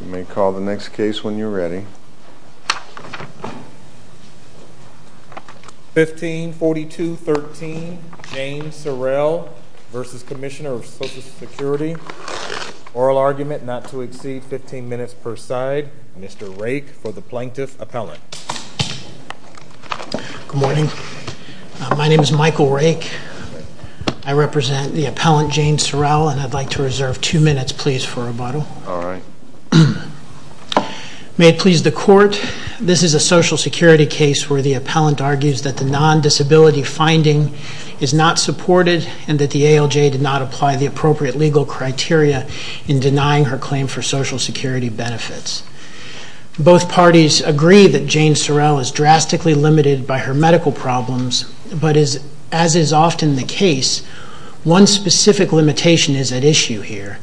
You may call the next case when you're ready. 1542.13. Jane Sorrell v. Comm of Social Security Oral argument not to exceed 15 minutes per side. Mr. Rake for the Plaintiff Appellant. Good morning. My name is Michael Rake. I represent the Appellant Jane Sorrell and I'd like to reserve 2 minutes please for rebuttal. May it please the Court, this is a Social Security case where the Appellant argues that the non-disability finding is not supported and that the ALJ did not apply the appropriate legal criteria in denying her claim for Social Security benefits. Both parties agree that Jane Sorrell is drastically limited by her medical problems but as is often the case, one specific limitation is at issue here.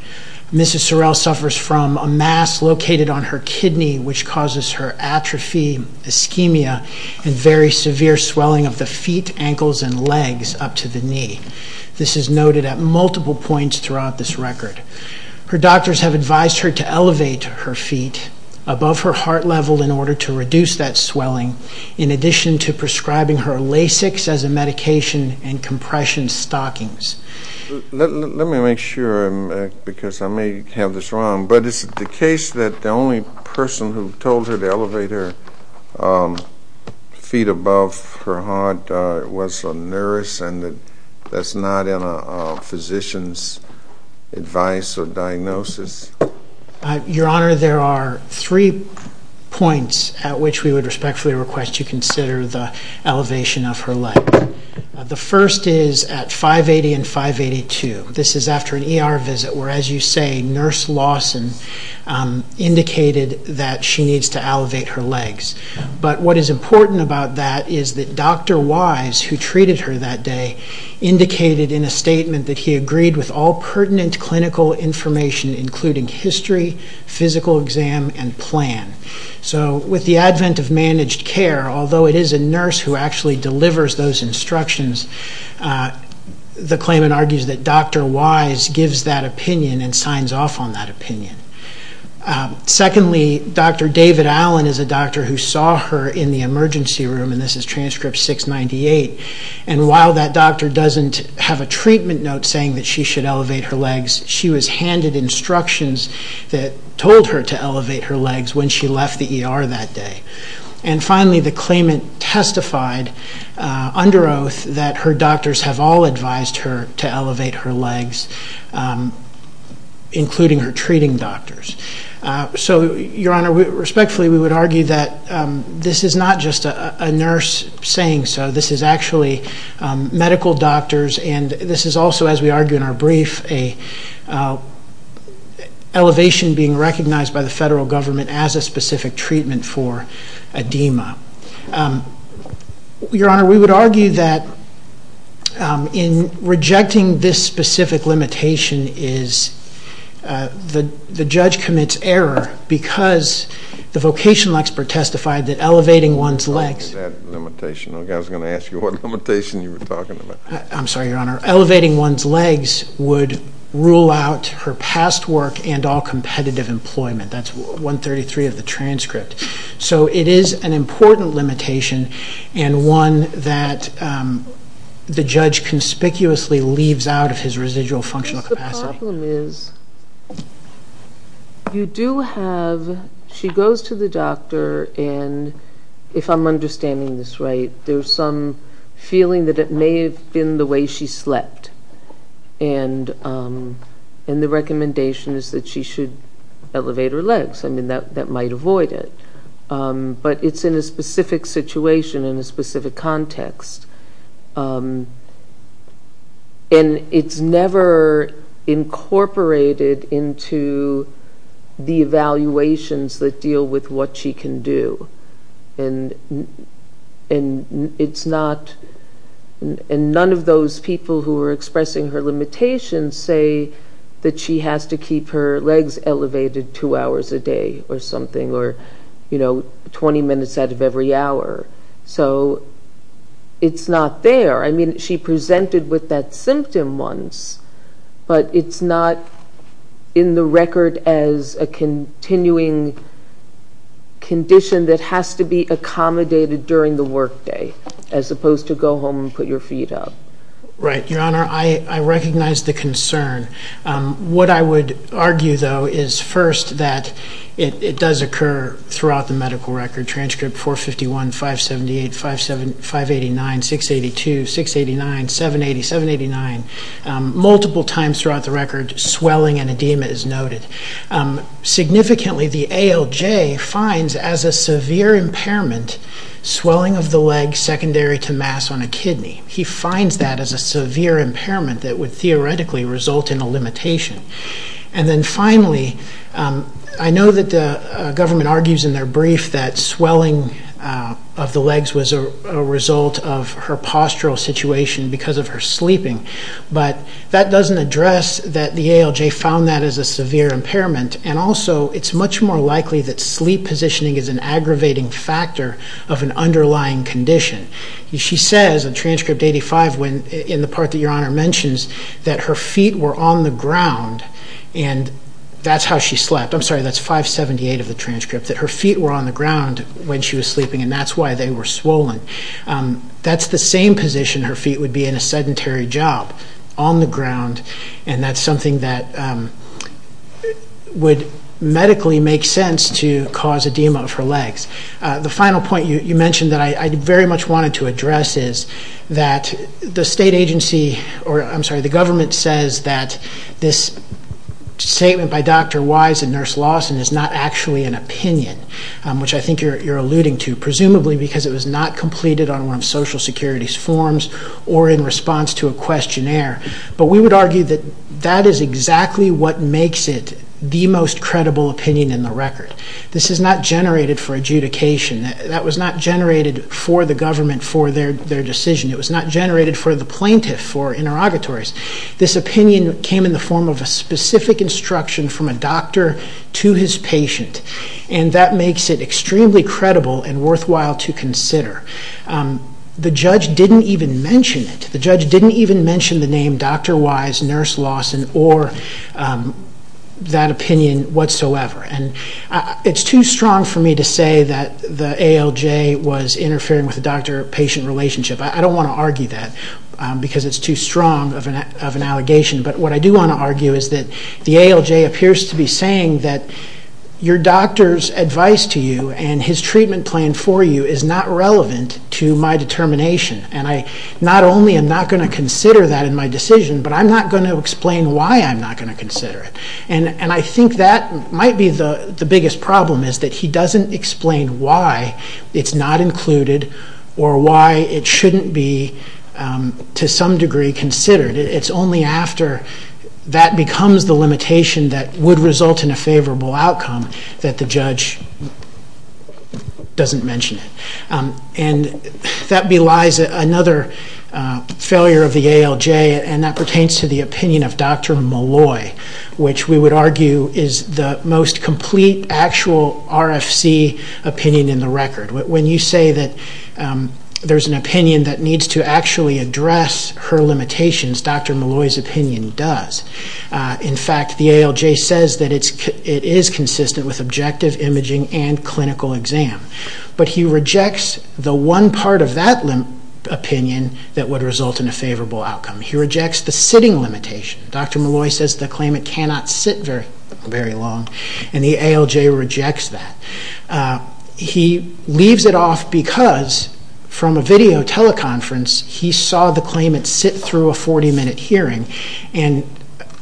Mrs. Sorrell suffers from a mass located on her kidney which causes her atrophy, ischemia and very severe swelling of the feet, ankles and legs up to the knee. This is noted at multiple points throughout this record. Her doctors have advised her to elevate her feet above her heart level in order to reduce that swelling in addition to prescribing her Lasix as a medication and compression stockings. Let me make sure because I may have this wrong but is it the case that the only person who told her to elevate her feet above her heart was a nurse and that's not in a physician's advice or diagnosis? Your Honor, there are 3 points at which we would respectfully request you consider the elevation of her leg. The first is at 580 and 582. This is after an ER visit where as you say, Nurse Lawson indicated that she needs to elevate her legs. What is important about that is that Dr. Wise who treated her that day indicated in a statement that he agreed with all pertinent clinical information including history, physical exam and plan. With the advent of managed care, although it is a nurse who actually delivers those instructions, the claimant argues that Dr. Wise gives that opinion and signs off on that opinion. Secondly, Dr. David Allen is a doctor who saw her in the emergency room and this is transcript 698. While that doctor doesn't have a treatment note saying that she should elevate her legs, she was handed instructions that told her to elevate her legs when she left the ER that day. Finally, the claimant testified under oath that her doctors have all advised her to elevate her legs including her treating doctors. Your Honor, respectfully we would argue that this is not just a nurse saying so, this is actually medical doctors and this is also as we argue in our brief elevation being recognized by the federal government as a specific treatment for edema. Your Honor, we would argue that in rejecting this specific limitation is the judge commits error because the vocational expert testified that elevating one's legs... I was going to ask you what limitation you were talking about. I'm sorry, Your Honor. Elevating one's legs would rule out her past work and all 233 of the transcript. So it is an important limitation and one that the judge conspicuously leaves out of his residual functional capacity. The problem is, you do have, she goes to the doctor and if I'm understanding this right, there's some feeling that it may have been the way she slept and the recommendation is that she should elevate her legs. I mean, that might avoid it. But it's in a specific situation, in a specific context. And it's never incorporated into the evaluations that deal with what she can do. And it's not, and none of those people who are expressing her limitations say that she has to keep her legs elevated two hours a day or something or 20 minutes out of every hour. It's not there. I mean, she presented with that symptom once, but it's not in the record as a continuing condition that has to be accommodated during the work day, as opposed to go home and put your feet up. Right. Your Honor, I recognize the concern. What I would argue, though, is first that it does occur throughout the medical record, transcript 451, 578, 589, 682, 689, 780, 789, multiple times throughout the record, swelling and edema is noted. Significantly, the ALJ finds as a severe impairment, swelling of the legs secondary to mass on a kidney. He finds that as a severe impairment that would theoretically result in a limitation. And then finally, I know that the government argues in their brief that swelling of the legs was a result of her postural situation because of her sleeping, but that doesn't address that the ALJ found that as a severe impairment and also it's much more likely that sleep positioning is an aggravating factor of an underlying condition. She says in transcript 85, in the part that Your Honor mentions, that her feet were on the ground and that's how she slept. I'm sorry, that's 578 of the transcript, that her feet were on the ground when she was sleeping and that's why they were swollen. That's the same position her feet would be in a sedentary job, on the ground, and that's something that would medically make sense to cause edema of her legs. The final point you mentioned that I very much wanted to address is that the government says that this statement by Dr. Wise and Nurse Lawson is not actually an opinion, which I think you're alluding to, presumably because it was not completed on one of Social Security's forms or in response to a questionnaire. But we would argue that that is exactly what makes it the most credible opinion in the record. This is not generated for adjudication. That was not generated for the government for their decision. It was not generated for the plaintiff, for interrogatories. This opinion came in the form of a specific instruction from a doctor to his patient and that makes it extremely credible and worthwhile to consider. The judge didn't even mention it. The judge didn't even mention the name Dr. Wise, Nurse Lawson, or that opinion whatsoever. It's too obvious that the ALJ was interfering with the doctor-patient relationship. I don't want to argue that because it's too strong of an allegation. But what I do want to argue is that the ALJ appears to be saying that your doctor's advice to you and his treatment plan for you is not relevant to my determination. Not only am I not going to consider that in my decision, but I'm not going to explain why I'm not going to consider it. I think that might be the biggest problem is that he doesn't explain why it's not included or why it shouldn't be, to some degree, considered. It's only after that becomes the limitation that would result in a favorable outcome that the judge doesn't mention it. That belies another failure of the ALJ and that pertains to the opinion of Dr. Malloy, which we would argue is the most complete actual RFC opinion in the record. When you say that there's an opinion that needs to actually address her limitations, Dr. Malloy's opinion does. In fact, the ALJ says that it is consistent with objective imaging and clinical exam. But he rejects the one part of that opinion that would result in a favorable outcome. He rejects the sitting limitation. Dr. Malloy says the claimant cannot sit very long and the ALJ rejects that. He leaves it off because, from a video teleconference, he saw the claimant sit through a 40-minute hearing and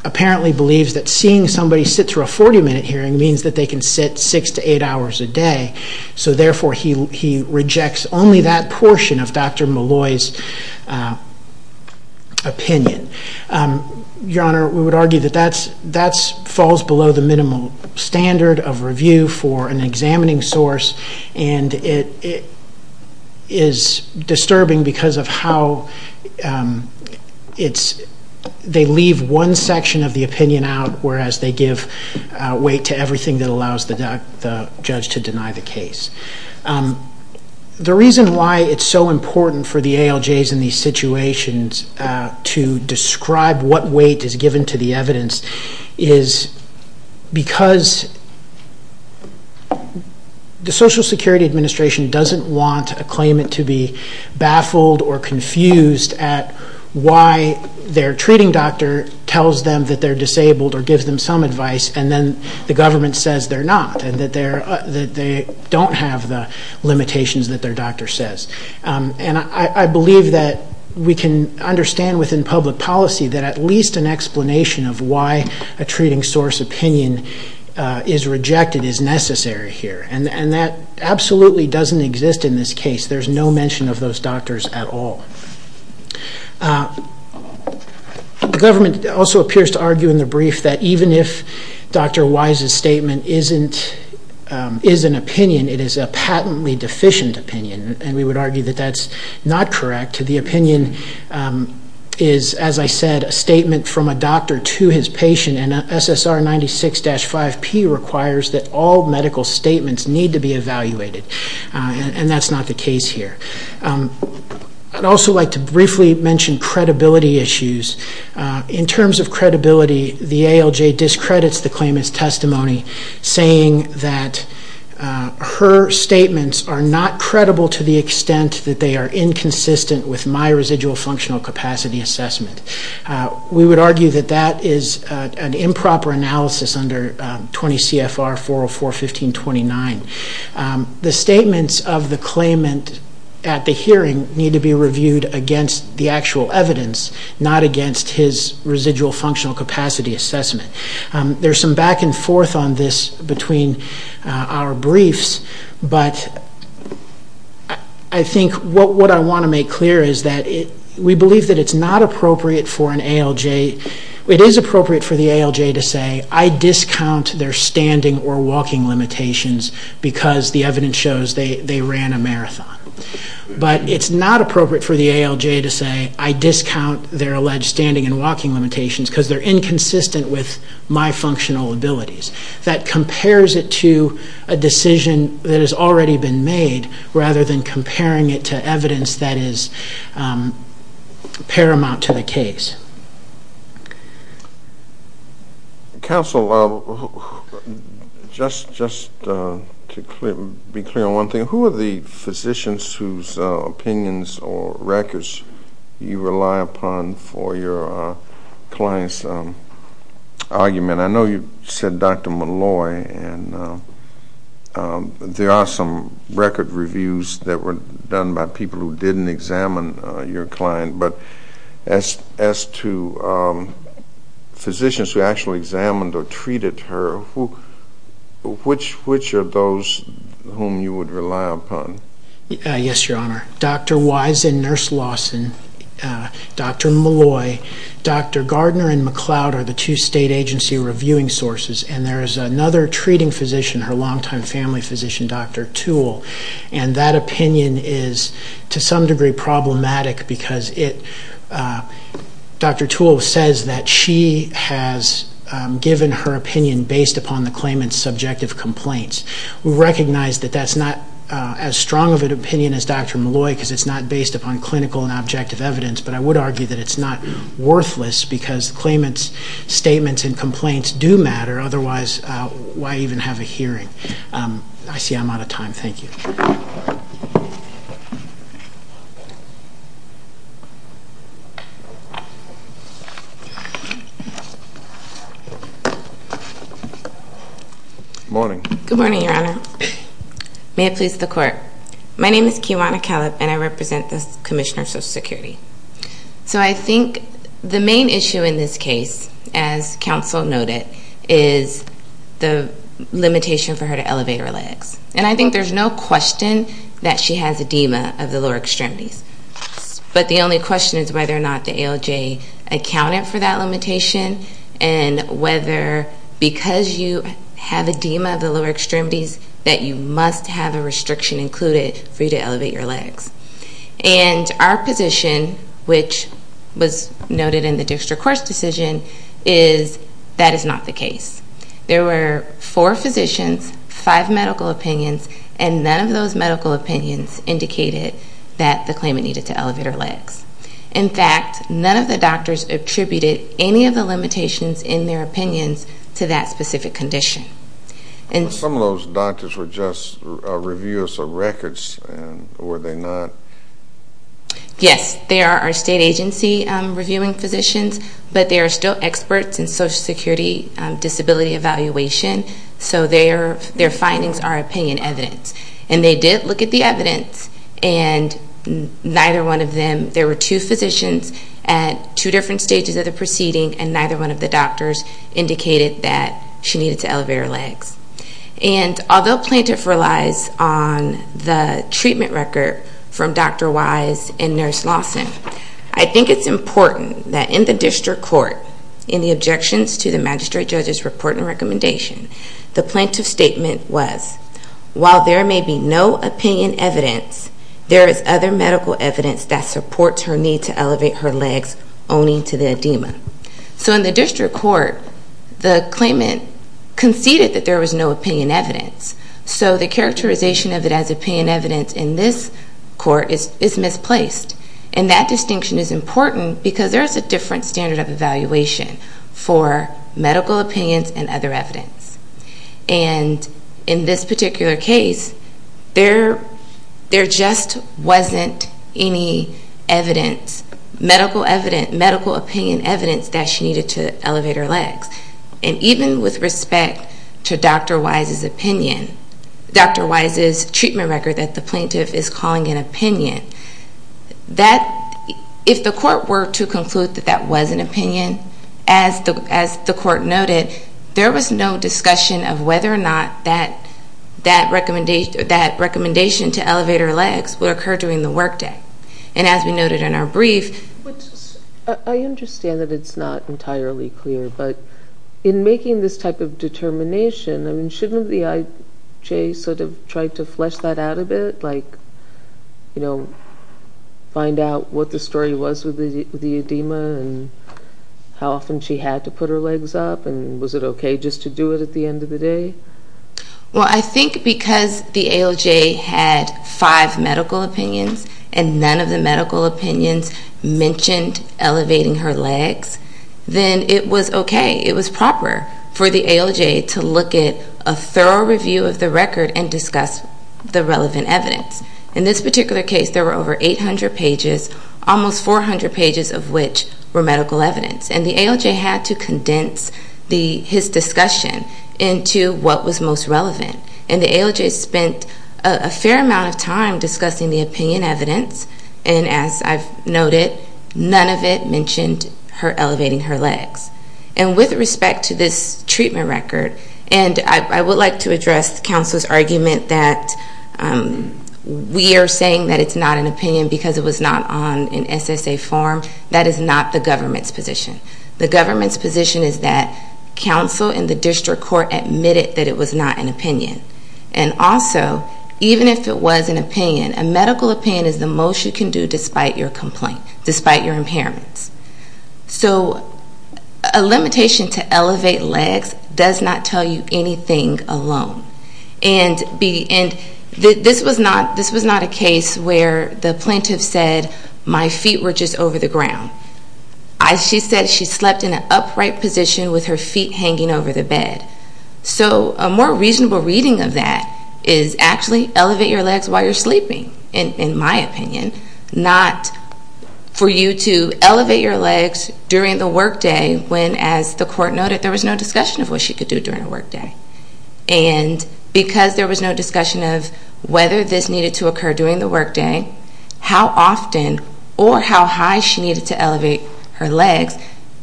apparently believes that seeing somebody sit through a 40-minute hearing means that they can sit six to eight hours a day. Therefore, he rejects only that portion of Dr. Malloy's opinion. Your Honor, we would argue that that falls below the minimal standard of review for an examining source and it is disturbing because of how they leave one section of the opinion out, whereas they give weight to everything that allows the judge to deny the case. The reason why it's so important for the ALJs in these situations to describe what weight is given to the evidence is because the Social Security Administration doesn't want a claimant to be baffled or confused at why their treating doctor tells them that they're disabled or gives them some advice and then the government says they're not and that they don't have the limitations that their doctor says. I believe that we can understand within public policy that at least an explanation of why a treating source opinion is rejected is necessary here and that absolutely doesn't exist in this case. There's no mention of those doctors at all. The government also appears to argue in the brief that even if Dr. Wise's statement is an opinion, it is a patently deficient opinion and we would argue that that's not correct. The opinion is, as I said, a statement from a doctor to his patient and SSR 96-5P requires that all medical statements need to be evaluated and that's not the case here. I'd also like to briefly mention credibility issues. In terms of credibility, the ALJ discredits the claimant's testimony saying that her statements are not credible to the extent that they are inconsistent with my residual functional capacity assessment. We would argue that that is an improper analysis under 20 CFR 404-1529. The statements of the claimant at the hearing need to be reviewed against the actual evidence, not against his residual functional capacity assessment. There's some back and forth on this between our briefs, but I think what I want to make clear is that we believe that it's not appropriate for an ALJ. It is appropriate for the ALJ to say, I discount their standing or walking limitations because the evidence shows they ran a marathon. But it's not appropriate for the ALJ to say, I discount their alleged standing and walking limitations because they're inconsistent with my functional abilities. That compares it to a decision that has already been made rather than comparing it to evidence that is paramount to the case. Counsel, just to be clear on one thing, who are the physicians whose opinions or records you rely upon for your client's argument? I know you said Dr. Malloy, and there are some record reviews that were done by people who didn't examine your client, but as to physicians who actually examined or treated her, which are those whom you would rely upon? Yes, Your Honor. Dr. Wise and Nurse Lawson. Dr. Malloy. Dr. Gardner and McLeod are the two state agency reviewing sources, and there is another treating physician, her longtime family physician, Dr. Toole, and that opinion is to some degree problematic because Dr. Toole says that she has given her opinion based upon the claimant's subjective complaints. We recognize that that's not as strong of an opinion as Dr. Malloy because it's not based upon clinical and objective evidence, but I would argue that it's not worthless because the claimant's statements and complaints do matter otherwise why even have a hearing? I see I'm out of time. Thank you. Good morning. Good morning, Your Honor. May it please the Court. My name is Keewana Callip, and I represent the Commissioner of Social Security. So I think the main issue in this case, as counsel noted, is the limitation for her to elevate her legs. And I think there's no question that she has edema of the lower extremities, but the only question is whether or not the ALJ accounted for that limitation and whether because you have edema of the lower extremities that you must have a restriction included for you to elevate your legs. And our position, which was noted in the District Court's decision, is that is not the case. There were four physicians, five medical opinions, and none of those medical opinions indicated that the claimant needed to elevate her legs. In fact, none of the doctors attributed any of the limitations in their opinions to that specific condition. Some of those doctors were just reviewers of records, were they not? Yes. They are our state agency reviewing physicians, but they are still experts in Social Security disability evaluation, so their findings are opinion evidence. And they did look at the evidence and neither one of them, there were two physicians at two different stages of the proceeding, and neither one of the doctors indicated that she needed to elevate her legs. And although plaintiff relies on the treatment record from Dr. Wise and Nurse Lawson, I think it's important that in the District Court, in the objections to the Magistrate Judge's report and recommendation, the plaintiff's statement was while there may be no opinion evidence, there is other medical evidence. So in the District Court, the claimant conceded that there was no opinion evidence. So the characterization of it as opinion evidence in this court is misplaced. And that distinction is important because there is a different standard of evaluation for medical opinions and other evidence. And in this particular case, there just wasn't any evidence, medical opinion evidence that she needed to elevate her legs. And even with respect to Dr. Wise's opinion, Dr. Wise's treatment record that the plaintiff is calling an opinion, if the court were to conclude that that was an opinion, as the court noted, there was no discussion of whether or not that recommendation to elevate her legs would occur during the work day. And as we noted in our brief... I understand that it's not entirely clear, but in making this type of determination, I mean, shouldn't the ALJ sort of try to flesh that out a bit? Like, you know, find out what the story was with the edema and how often she had to put her legs up? And was it okay just to do it at the end of the day? Well, I think because the ALJ had five medical opinions and none of the medical opinions mentioned elevating her legs, then it was okay. It was proper for the ALJ to look at a thorough review of the record and discuss the relevant evidence. In this particular case, there were over 800 pages, almost 400 pages of which were medical evidence. And the ALJ had to condense his discussion into what was most relevant. And the ALJ spent a fair amount of time discussing the opinion evidence and as I've noted, none of it mentioned elevating her legs. And with respect to this treatment record and I would like to address counsel's argument that we are saying that it's not an opinion because it was not on an SSA form. That is not the government's position. The government's position is that counsel and the district court admitted that it was not an opinion. And also, even if it was an opinion, a medical opinion is the most you can do despite your complaint, despite your impairments. So a limitation to elevate legs does not tell you anything alone. And this was not a case where the plaintiff said my feet were just over the ground. She said she slept in an upright position with her feet hanging over the bed. So a more reasonable reading of that is actually elevate your legs while you're sleeping, in my opinion. Not for you to elevate your legs during the work day when, as the court noted, there was no discussion of what she could do during her work day. And because there was no discussion of whether this needed to occur during the work day, how often or how high she needed to elevate her legs,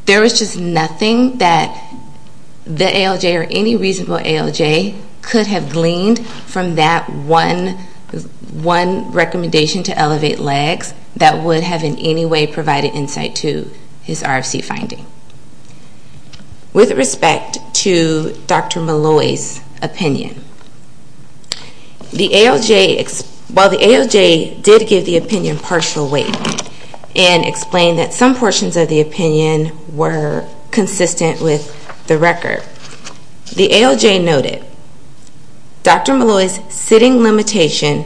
there was just nothing that the ALJ or any reasonable ALJ could have gleaned from that one recommendation to elevate legs that would have in any way provided insight to his RFC finding. With respect to Dr. Malloy's opinion, while the ALJ did give the opinion partial weight and explained that some portions of the hearing were inconsistent with the record, the ALJ noted Dr. Malloy's sitting limitation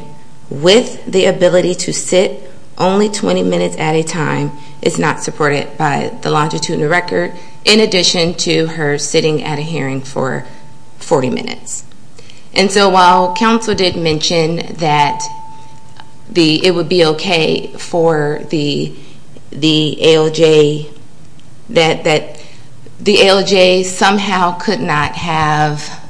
with the ability to sit only 20 minutes at a time is not supported by the longitude and the record, in addition to her sitting at a hearing for 40 minutes. And so while counsel did mention that it would be okay for the ALJ that the ALJ somehow could not have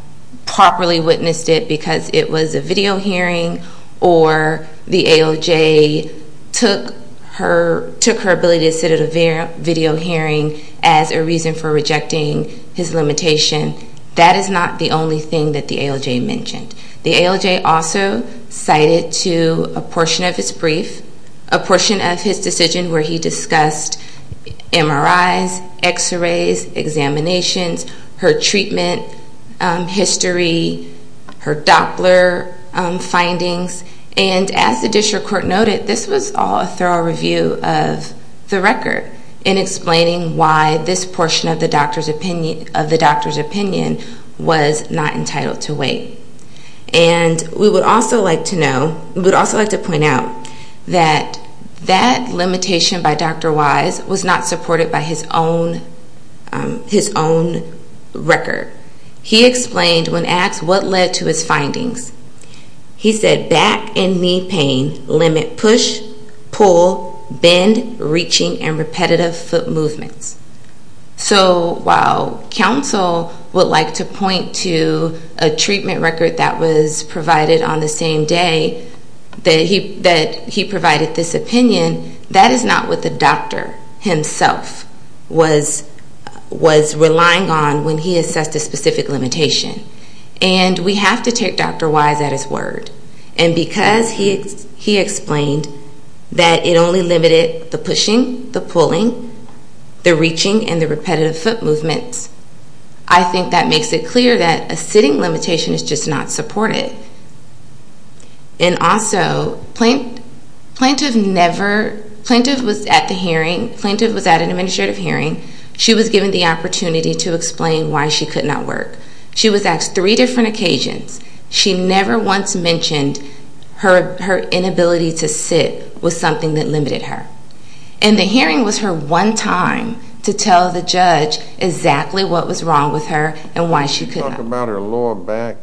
properly witnessed it because it was a video hearing or the ALJ took her ability to sit at a video hearing as a reason for rejecting his limitation, that is not the only thing that the ALJ mentioned. The ALJ also cited to a portion of his decision where he discussed MRIs, x-rays, examinations, her treatment history, her Doppler findings, and as the district court noted, this was all a thorough review of the record in explaining why this portion of the doctor's opinion was not entitled to weight. And we would also like to point out that that limitation by Dr. Wise was not supported by his own record. He explained when asked what led to his findings, he said back and knee pain limit push, pull, bend, reaching, and repetitive foot movements. So while counsel would like to point to a treatment record that was provided on the same day that he provided this opinion, that is not what the doctor himself was relying on when he assessed a specific limitation. And we have to take Dr. Wise at his word. And because he explained that it only limited the pushing, the pulling, the reaching, and the repetitive foot movements, I think that makes it clear that a sitting limitation is just not supported. And also, Plaintiff was at the hearing, Plaintiff was at an administrative hearing. She was given the opportunity to explain why she could not work. She was asked three different occasions. She never once mentioned her inability to sit was something that limited her. And the hearing was her one time to tell the judge exactly what was wrong with her and why she could not. Can you talk about her lower back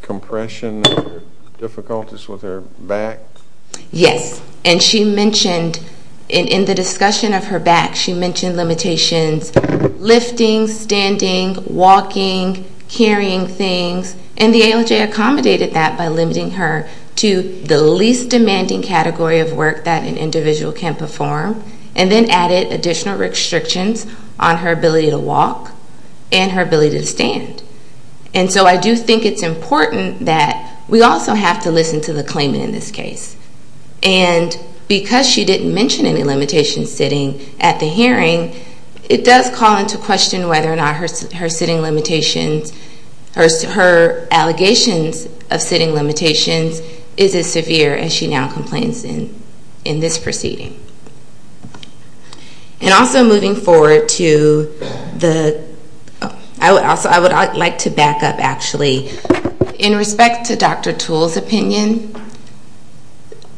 compression and her difficulties with her back? Yes. And she mentioned in the discussion of her back, she mentioned limitations lifting, standing, walking, carrying things. And the ALJ accommodated that by limiting her to the least demanding category of work that an individual can perform. And then added additional restrictions on her ability to walk and her ability to stand. And so I do think it's important that we also have to listen to the claimant in this case. And because she didn't mention any limitations sitting at the hearing, it does call into question whether or not her allegations of sitting limitations is as severe as she now complains in this proceeding. And also moving forward to the, I would like to back up actually. In respect to Dr. Toole's opinion,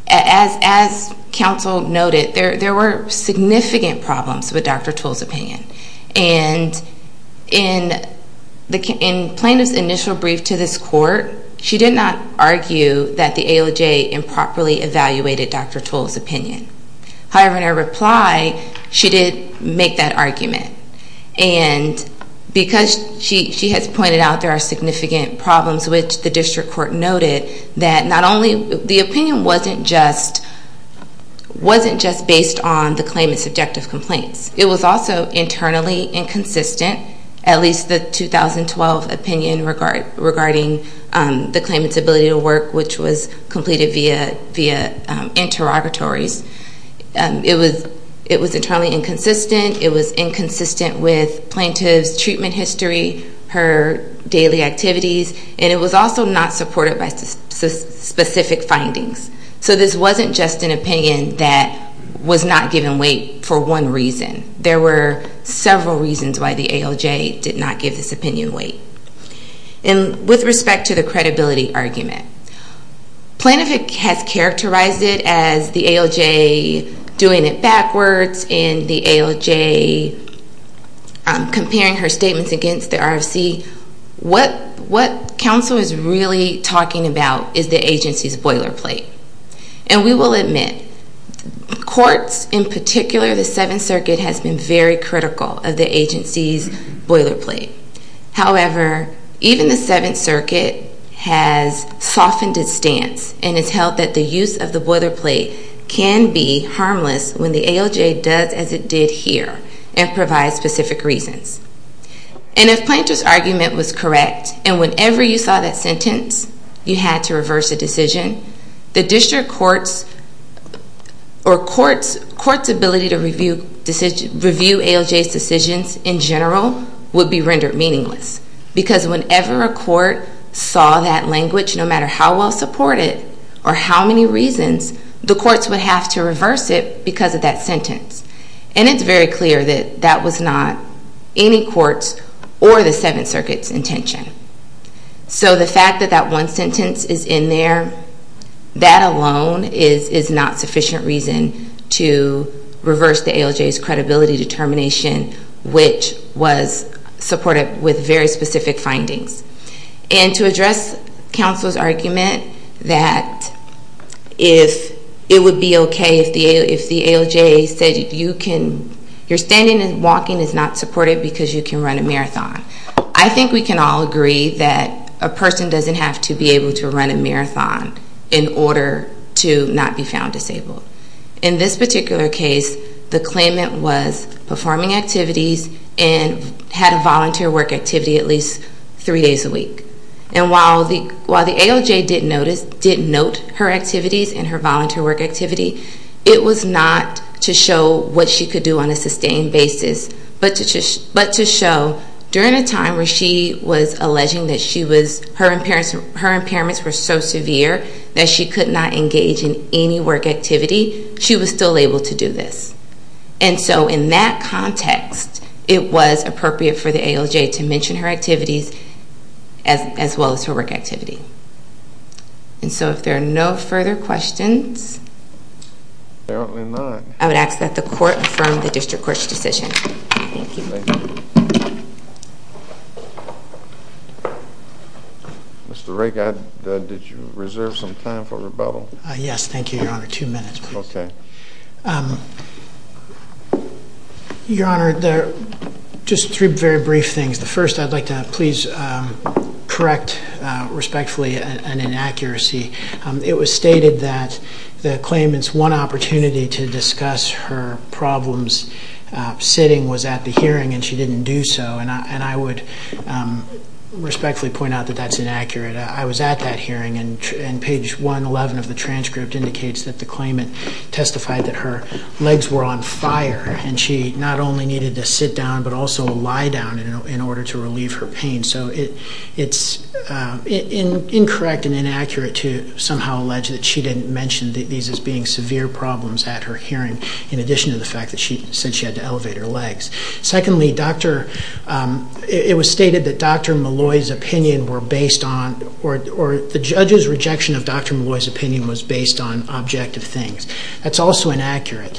as counsel noted, there were significant problems with Dr. Toole's opinion. And in plaintiff's initial brief to this court, she did not argue that the ALJ improperly evaluated Dr. Toole's opinion. However, in her reply, she did make that argument. And because she has pointed out there are significant problems, which the district court noted, that not only, the opinion wasn't just based on the claimant's subjective complaints. It was also internally inconsistent, at least the 2012 opinion regarding the claimant's ability to work, which was completed via interrogatories. It was internally inconsistent. It was inconsistent with plaintiff's treatment history, her daily activities. And it was also not supported by specific findings. So this wasn't just an opinion that was not given weight for one reason. There were several reasons why the ALJ did not give this opinion weight. And with respect to the credibility argument, plaintiff has characterized it as the ALJ doing it backwards and the ALJ comparing her statements against the RFC. What counsel is really talking about is the agency's boilerplate. And we will admit, courts in particular, the Seventh Circuit has been very critical of the agency's boilerplate. However, even the Seventh Circuit has softened its stance and has held that the use of the boilerplate can be harmless when the ALJ does as it did here and provides specific reasons. And if plaintiff's argument was correct and whenever you saw that sentence, you had to reverse a decision, the district court's ability to review ALJ's decisions in general would be rendered meaningless. Because whenever a court saw that ALJ did not support it, or how many reasons, the courts would have to reverse it because of that sentence. And it's very clear that that was not any court's or the Seventh Circuit's intention. So the fact that that one sentence is in there, that alone is not sufficient reason to reverse the ALJ's credibility determination, which was supported with very specific findings. And to say that it would be okay if the ALJ said you can, your standing and walking is not supported because you can run a marathon. I think we can all agree that a person doesn't have to be able to run a marathon in order to not be found disabled. In this particular case, the claimant was performing activities and had a volunteer work activity at least three days a week. And while the ALJ did note her activities and her volunteer work activity, it was not to show what she could do on a sustained basis, but to show during a time where she was alleging that her impairments were so severe that she could not engage in any work activity, she was still able to do this. And so I would ask that the court affirm the District Court's decision. Thank you. Mr. Rake, did you reserve some time for rebuttal? Yes, thank you, Your Honor. Two minutes, please. Your Honor, there are just three very did not make a decision on the I would like to please correct, respectfully, an inaccuracy. It was stated that the claimant's one opportunity to discuss her problems sitting was at the hearing, and she didn't do so. And I would respectfully point out that that's inaccurate. I was at that hearing, and page 111 of the transcript indicates that the claimant testified that her legs were on fire, and she not only needed to sit down but also to remove her pain. So it's incorrect and inaccurate to somehow allege that she didn't mention these as being severe problems at her hearing, in addition to the fact that she said she had to elevate her legs. Secondly, it was stated that Dr. Molloy's opinion were based on, or the judge's rejection of Dr. Molloy's opinion was based on objective things. That's also inaccurate.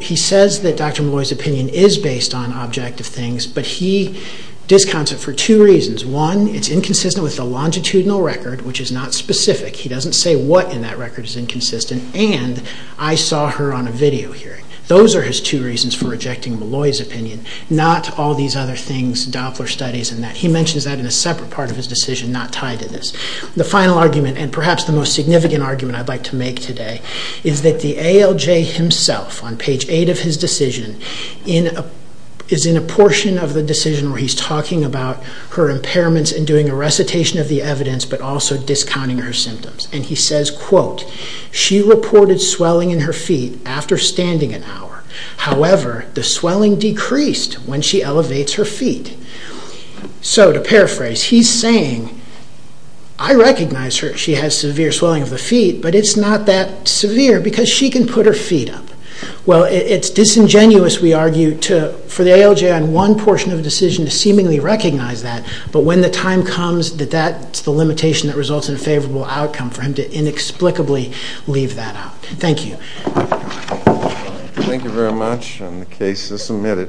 He says that Dr. Molloy's opinion is based on discontent for two reasons. One, it's inconsistent with the longitudinal record, which is not specific. He doesn't say what in that record is inconsistent, and I saw her on a video hearing. Those are his two reasons for rejecting Molloy's opinion, not all these other things, Doppler studies and that. He mentions that in a separate part of his decision not tied to this. The final argument, and perhaps the most significant argument I'd like to make today, is that the ALJ himself, on page 8 of his decision, is in a portion of the decision where he's talking about her impairments and doing a recitation of the evidence, but also discounting her symptoms. He says, quote, "...she reported swelling in her feet after standing an hour. However, the swelling decreased when she elevates her feet." To paraphrase, he's saying, I recognize she has severe swelling of the feet, but it's not that severe because she can put her feet up. Well, it's disingenuous, we argue, for the ALJ on one portion of the decision to seemingly recognize that, but when the time comes that that's the limitation that results in a favorable outcome for him to inexplicably leave that out. Thank you. Thank you very much. The case is submitted.